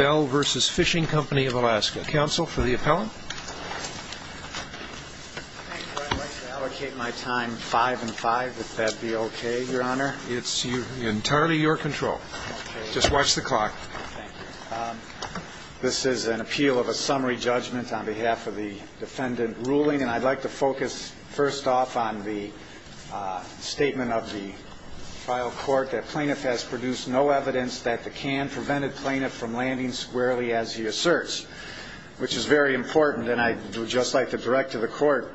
of Alaska. Counsel for the appellant? I'd like to allocate my time five and five, if that'd be okay, Your Honor. It's entirely your control. Just watch the clock. Thank you. This is an appeal of a summary judgment on behalf of the defendant ruling, and I'd like to focus first off on the statement of the trial court that plaintiff has produced no evidence that the can prevented plaintiff from landing on the property of the defendant. The defendant has no evidence that the can prevented the defendant from landing on the property of the defendant. The defendant has no evidence that the can prevented the defendant from landing squarely as he asserts, which is very important, and I'd just like to direct to the court,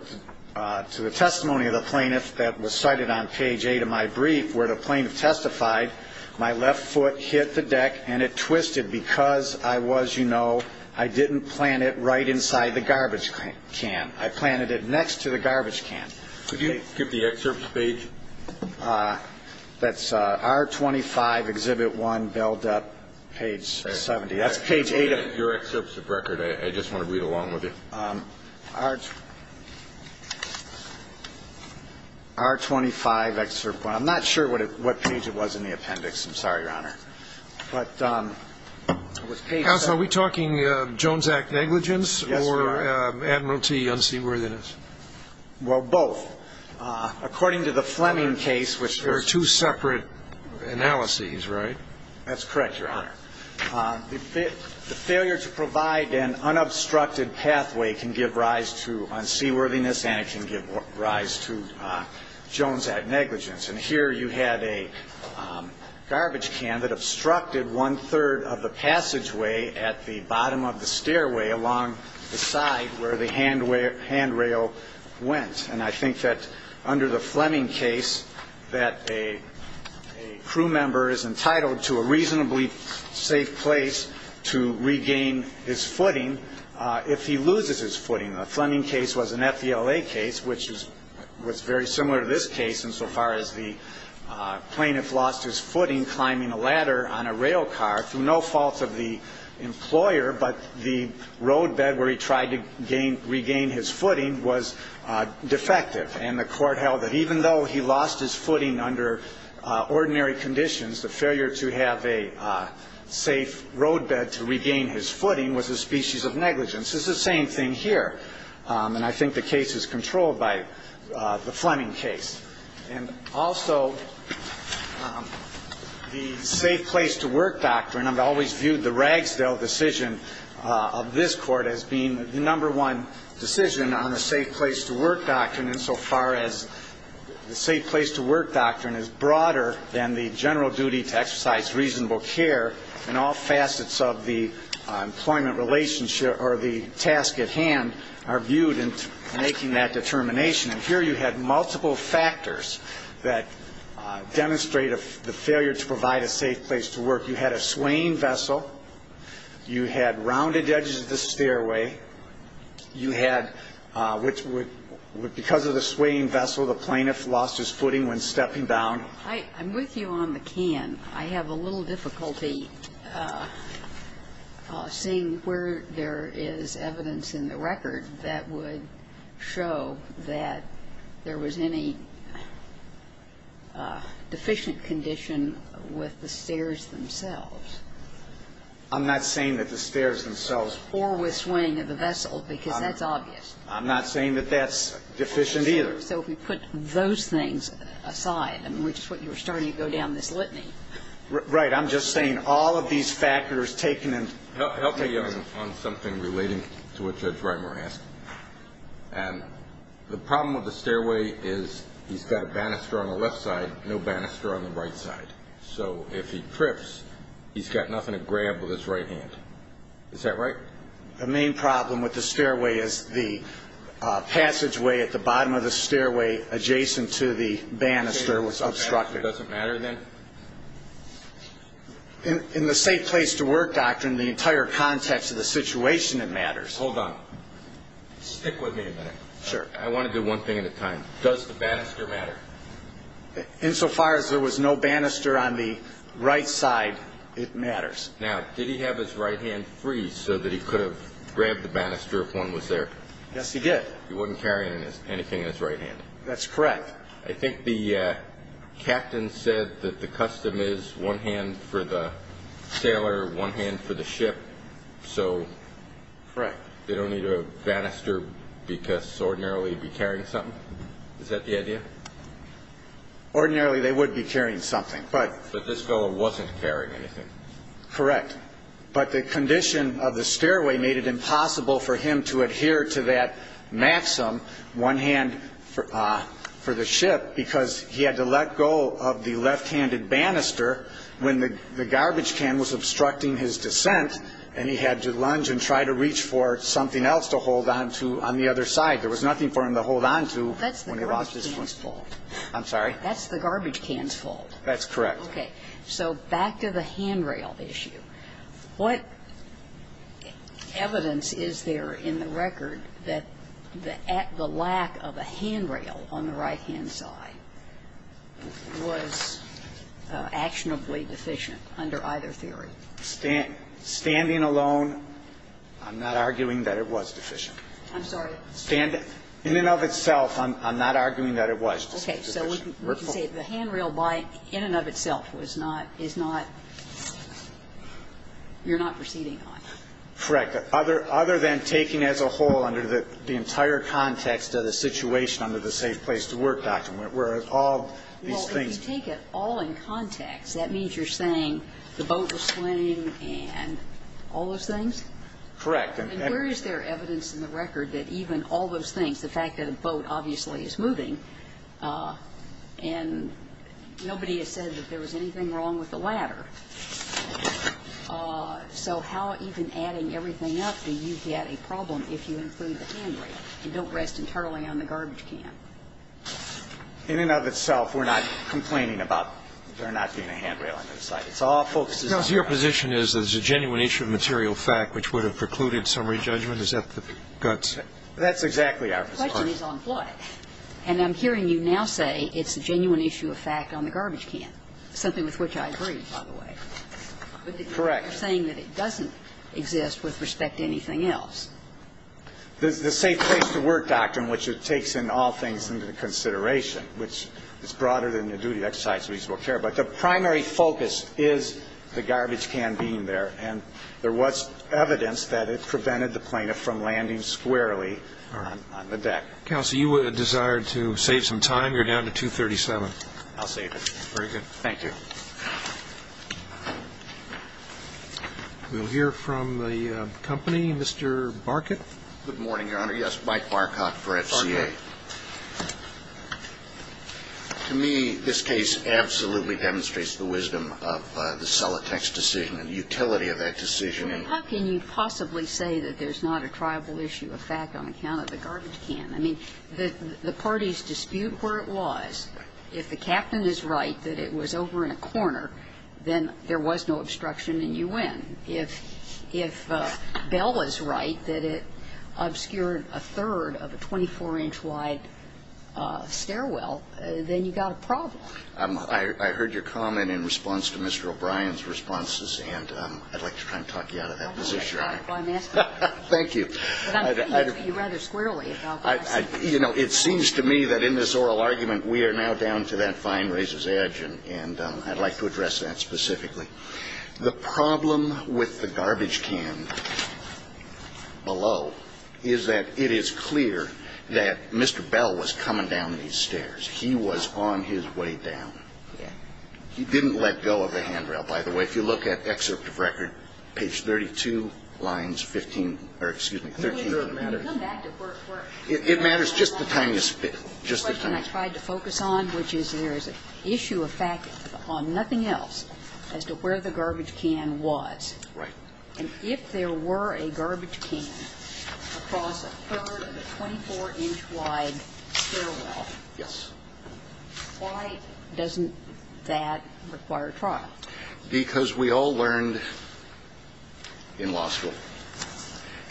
to the testimony of the plaintiff that was cited on page eight of my brief, where the plaintiff testified, my left foot hit the deck and it twisted because I was, you know, I didn't plant it right inside the garbage can. I planted it next to the garbage can. Could you skip the excerpt, please? That's R25, Exhibit 1, belled up, page 78. That's page eight of your excerpts of record. I just want to read along with you. R25, Excerpt 1. I'm not sure what page it was in the appendix. I'm sorry, Your Honor. But it was page seven. Counsel, are we talking Jones Act negligence or Admiralty unseaworthiness? Well, both. According to the Fleming case, which was – There are two separate analyses, right? That's correct, Your Honor. The failure to provide an unobstructed pathway can give rise to unseaworthiness, and it can give rise to Jones Act negligence. And here you had a garbage can that obstructed one-third of the passageway at the bottom of the stairway along the side where the handrail went. And I think that under the Fleming case that a crew member is entitled to a reasonably safe place to regain his footing if he loses his footing. The Fleming case was an FVLA case, which was very similar to this case insofar as the plaintiff lost his footing climbing a ladder on a rail car through no fault of the employer, but the roadbed where he tried to regain his footing was defective. And the Court held that even though he lost his footing under ordinary conditions, the failure to have a safe roadbed to regain his footing was a species of negligence. It's the same thing here. And I think the case is controlled by the Fleming case. And also the safe place to work doctrine, I've always viewed the Ragsdale decision of this Court as being the number one decision on the safe place to work doctrine insofar as the safe place to work doctrine is broader than the general duty to exercise reasonable care and all facets of the employment relationship or the task at hand are viewed in making that determination. And here you had multiple factors that demonstrate the failure to provide a safe place to work. You had a swaying vessel. You had rounded edges of the stairway. You had, because of the swaying vessel, the plaintiff lost his footing when stepping down. I'm with you on the can. I have a little difficulty seeing where there is evidence in the record that would show that there was any deficient condition with the stairs themselves. I'm not saying that the stairs themselves. Or with swaying of the vessel, because that's obvious. I'm not saying that that's deficient either. So if we put those things aside, I mean, which is what you were starting to go down this litany. Right. I'm just saying all of these factors taken into account. I'll take you on something relating to what Judge Reimer asked. And the problem with the stairway is he's got a banister on the left side, no banister on the right side. So if he trips, he's got nothing to grab with his right hand. Is that right? The main problem with the stairway is the passageway at the bottom of the stairway adjacent to the banister was obstructed. Does it matter then? In the safe place to work doctrine, the entire context of the situation, it matters. Hold on. Stick with me a minute. Sure. I want to do one thing at a time. Does the banister matter? Insofar as there was no banister on the right side, it matters. Now, did he have his right hand free so that he could have grabbed the banister if one was there? Yes, he did. He wouldn't carry anything in his right hand. That's correct. I think the captain said that the custom is one hand for the sailor, one hand for the ship. So they don't need a banister because ordinarily he'd be carrying something. Is that the idea? Ordinarily they would be carrying something. But this fellow wasn't carrying anything. Correct. But the condition of the stairway made it impossible for him to adhere to that maxim, one hand for the ship, because he had to let go of the left-handed banister when the garbage can was obstructing his descent and he had to lunge and try to reach for something else to hold on to on the other side. There was nothing for him to hold on to when he lost his first fold. I'm sorry? That's the garbage can's fold. That's correct. Okay. So back to the handrail issue. What evidence is there in the record that the lack of a handrail on the right-hand side was actionably deficient under either theory? Standing alone, I'm not arguing that it was deficient. I'm sorry? In and of itself, I'm not arguing that it was deficient. Okay. So we can say the handrail by in and of itself was not, is not, you're not proceeding on it. Correct. Other than taking as a whole under the entire context of the situation under the Safe Place to Work document, where all these things. Well, if you take it all in context, that means you're saying the boat was slimming and all those things? Correct. And where is there evidence in the record that even all those things, the fact that a boat obviously is moving, and nobody has said that there was anything wrong with the ladder. So how even adding everything up do you get a problem if you include the handrail and don't rest entirely on the garbage can? In and of itself, we're not complaining about there not being a handrail on either side. It's all focused on the right. So your position is there's a genuine issue of material fact which would have precluded summary judgment? Is that the guts? That's exactly our position. The question is on foot. And I'm hearing you now say it's a genuine issue of fact on the garbage can, something with which I agree, by the way. Correct. But you're saying that it doesn't exist with respect to anything else. The Safe Place to Work doctrine, which takes in all things into consideration, which is broader than the duty of exercise of reasonable care, but the primary focus is the garbage can being there. And there was evidence that it prevented the plaintiff from landing squarely on the deck. Counsel, you desired to save some time. You're down to 2.37. I'll save it. Very good. Thank you. We'll hear from the company. Mr. Barkett. Good morning, Your Honor. Yes, Mike Barkott for FCA. To me, this case absolutely demonstrates the wisdom of the Solitex decision and the utility of that decision. How can you possibly say that there's not a tribal issue of fact on account of the garbage can? I mean, the parties dispute where it was. If the captain is right that it was over in a corner, then there was no obstruction in U.N. If Bell is right that it obscured a third of a 24-inch-wide stairwell, then you've got a problem. I heard your comment in response to Mr. O'Brien's responses, and I'd like to try and talk you out of that position. Well, I'm asking. Thank you. But I'm thinking of you rather squarely about this. You know, it seems to me that in this oral argument, we are now down to that fine razor's edge, and I'd like to address that specifically. The problem with the garbage can below is that it is clear that Mr. Bell was coming down these stairs. He was on his way down. He didn't let go of the handrail, by the way. And if you look at excerpt of record, page 32, lines 15 or, excuse me, 13, it matters just the time you spend. The question I tried to focus on, which is there is an issue of fact on nothing else as to where the garbage can was. Right. And if there were a garbage can across a third of a 24-inch-wide stairwell, why doesn't that require trial? Because we all learned in law school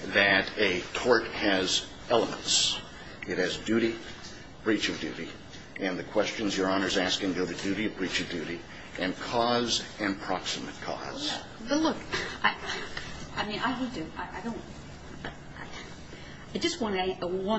that a tort has elements. It has duty, breach of duty. And the questions Your Honor is asking go to duty of breach of duty and cause and proximate cause. Well, look, I mean, I would do. I don't. I just want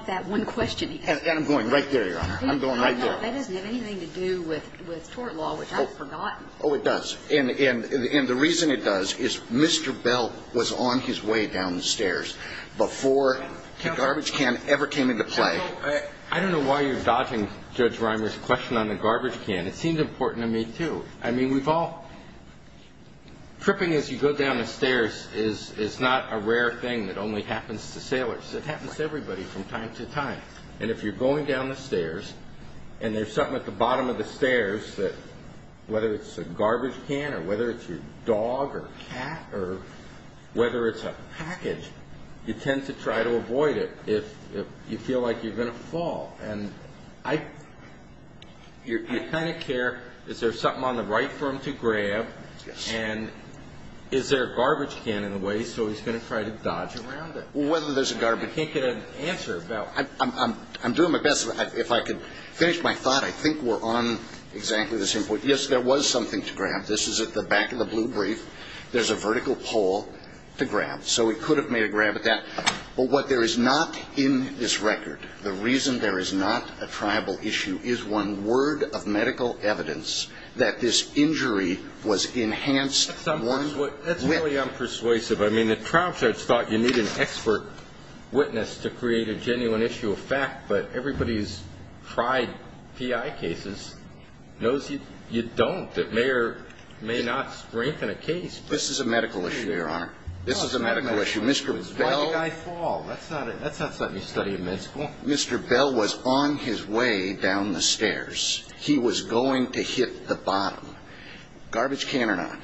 that one question. And I'm going right there, Your Honor. I'm going right there. That doesn't have anything to do with tort law, which I've forgotten. Oh, it does. And the reason it does is Mr. Bell was on his way down the stairs before the garbage can ever came into play. Counsel, I don't know why you're dodging Judge Reimer's question on the garbage can. It seems important to me, too. I mean, we've all ñ tripping as you go down the stairs is not a rare thing that only happens to sailors. It happens to everybody from time to time. And if you're going down the stairs and there's something at the bottom of the garbage can, whether it's a garbage can or whether it's your dog or cat or whether it's a package, you tend to try to avoid it if you feel like you're going to fall. And I ñ you kind of care is there something on the right for him to grab. Yes. And is there a garbage can in the way, so he's going to try to dodge around it. Well, whether there's a garbage can. I can't get an answer. I'm doing my best. If I could finish my thought, I think we're on exactly the same point. Yes, there was something to grab. This is at the back of the blue brief. There's a vertical pole to grab. So he could have made a grab at that. But what there is not in this record, the reason there is not a triable issue, is one word of medical evidence that this injury was enhanced. That's really unpersuasive. I mean, the trial judge thought you need an expert witness to create a genuine issue of fact, but everybody who's tried PI cases knows you don't. It may or may not strengthen a case. This is a medical issue, Your Honor. This is a medical issue. Why did I fall? That's not something you study in med school. Mr. Bell was on his way down the stairs. He was going to hit the bottom, garbage can or not.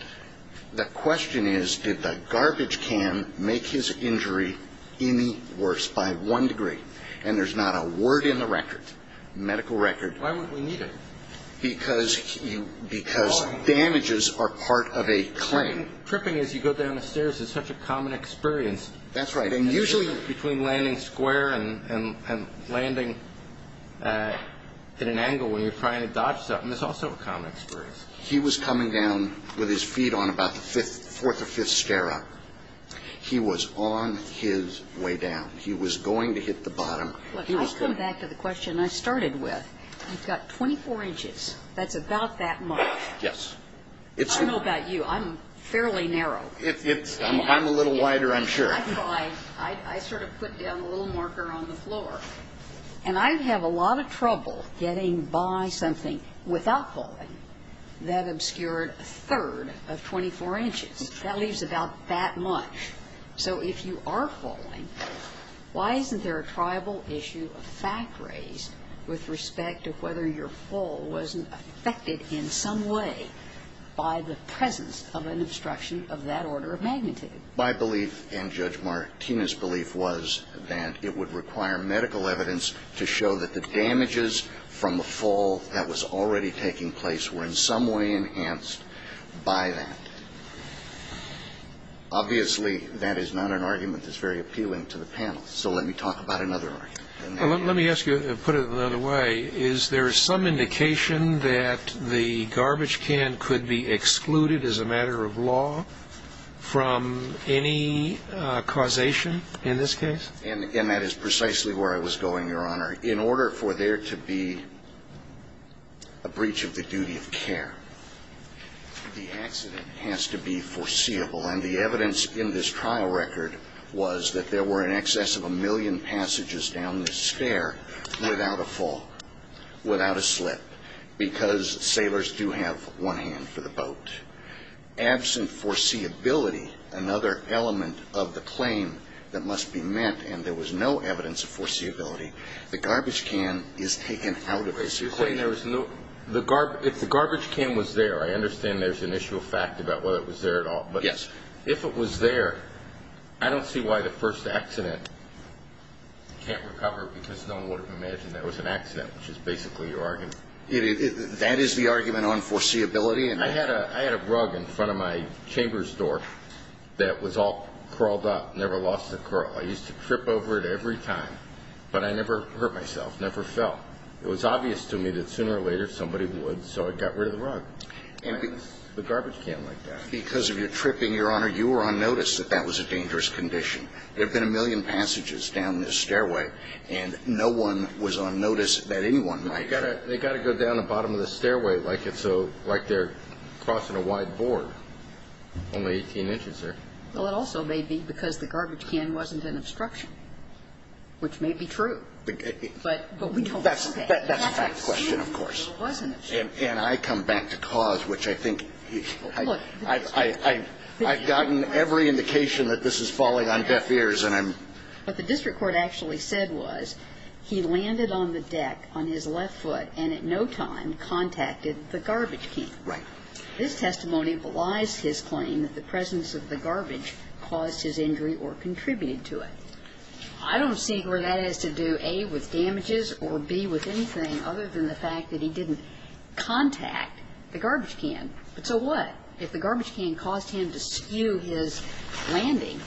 The question is, did the garbage can make his injury any worse by one degree? And there's not a word in the record, medical record. Why would we need it? Because damages are part of a claim. Tripping as you go down the stairs is such a common experience. That's right. And usually between landing square and landing at an angle when you're trying to dodge something, it's also a common experience. He was coming down with his feet on about the fourth or fifth stair up. He was on his way down. He was going to hit the bottom. Let's come back to the question I started with. You've got 24 inches. That's about that much. Yes. I don't know about you. I'm fairly narrow. I'm a little wider, I'm sure. I sort of put down a little marker on the floor. And I have a lot of trouble getting by something without falling that obscured a third of 24 inches. That leaves about that much. So if you are falling, why isn't there a triable issue of fact raised with respect to whether your fall wasn't affected in some way by the presence of an obstruction of that order of magnitude? My belief and Judge Martinez's belief was that it would require medical evidence to show that the damages from the fall that was already taking place were in some way enhanced by that. Obviously, that is not an argument that's very appealing to the panel. So let me talk about another argument. Let me ask you, put it another way. Is there some indication that the garbage can could be excluded as a matter of law from any causation in this case? And that is precisely where I was going, Your Honor. Your Honor, in order for there to be a breach of the duty of care, the accident has to be foreseeable. And the evidence in this trial record was that there were in excess of a million passages down this stair without a fall, without a slip, because sailors do have one hand for the boat. Absent foreseeability, another element of the claim that must be met, and there was no evidence of foreseeability, the garbage can is taken out of this claim. You're saying there was no – if the garbage can was there, I understand there's an issue of fact about whether it was there at all. Yes. But if it was there, I don't see why the first accident can't recover, because no one would have imagined there was an accident, which is basically your argument. That is the argument on foreseeability? I had a rug in front of my chamber store that was all curled up, never lost a curl. I used to trip over it every time, but I never hurt myself, never fell. It was obvious to me that sooner or later somebody would, so I got rid of the rug. And the garbage can like that. Because of your tripping, Your Honor, you were on notice that that was a dangerous condition. There have been a million passages down this stairway, and no one was on notice that anyone might – They've got to go down the bottom of the stairway like they're crossing a wide board. Only 18 inches there. Well, it also may be because the garbage can wasn't an obstruction, which may be true. But we don't see that. That's a fact question, of course. And I come back to cause, which I think – I've gotten every indication that this is falling on deaf ears. What the district court actually said was he landed on the deck on his left foot and at no time contacted the garbage can. Right. This testimony belies his claim that the presence of the garbage caused his injury or contributed to it. I don't see where that has to do, A, with damages or, B, with anything other than the fact that he didn't contact the garbage can. But so what if the garbage can caused him to skew his landing?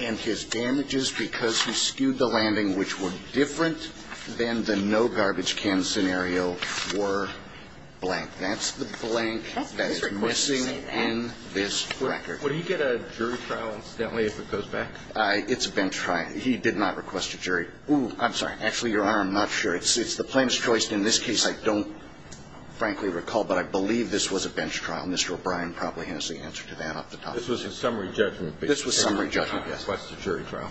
And his damages, because he skewed the landing, which were different than the no-garbage-can scenario, were blank. That's the blank that is missing in this record. Would he get a jury trial, incidentally, if it goes back? It's been tried. He did not request a jury. I'm sorry. Actually, Your Honor, I'm not sure. It's the plaintiff's choice. In this case, I don't frankly recall, but I believe this was a bench trial. Mr. O'Brien probably has the answer to that off the top of his head. This was a summary judgment. This was a summary judgment, yes. He did not request a jury trial.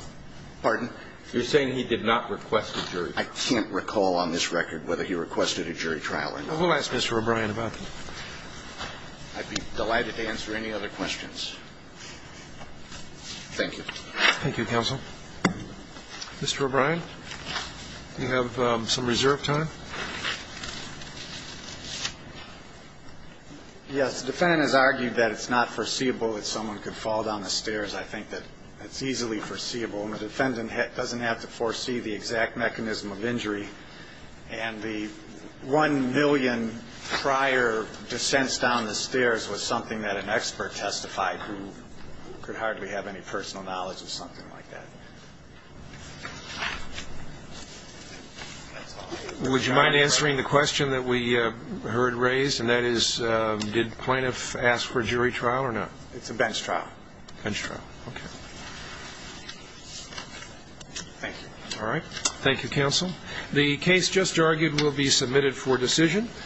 Pardon? You're saying he did not request a jury trial. I can't recall on this record whether he requested a jury trial or not. We'll ask Mr. O'Brien about that. I'd be delighted to answer any other questions. Thank you. Thank you, counsel. Mr. O'Brien, do you have some reserve time? Yes. The defendant has argued that it's not foreseeable that someone could fall down the stairs. I think that it's easily foreseeable. And the defendant doesn't have to foresee the exact mechanism of injury. And the one million prior descents down the stairs was something that an expert testified who could hardly have any personal knowledge of something like that. Would you mind answering the question that we heard raised? And that is, did plaintiff ask for jury trial or not? It's a bench trial. Bench trial. Okay. Thank you. All right. Thank you, counsel. The case just argued will be submitted for decision.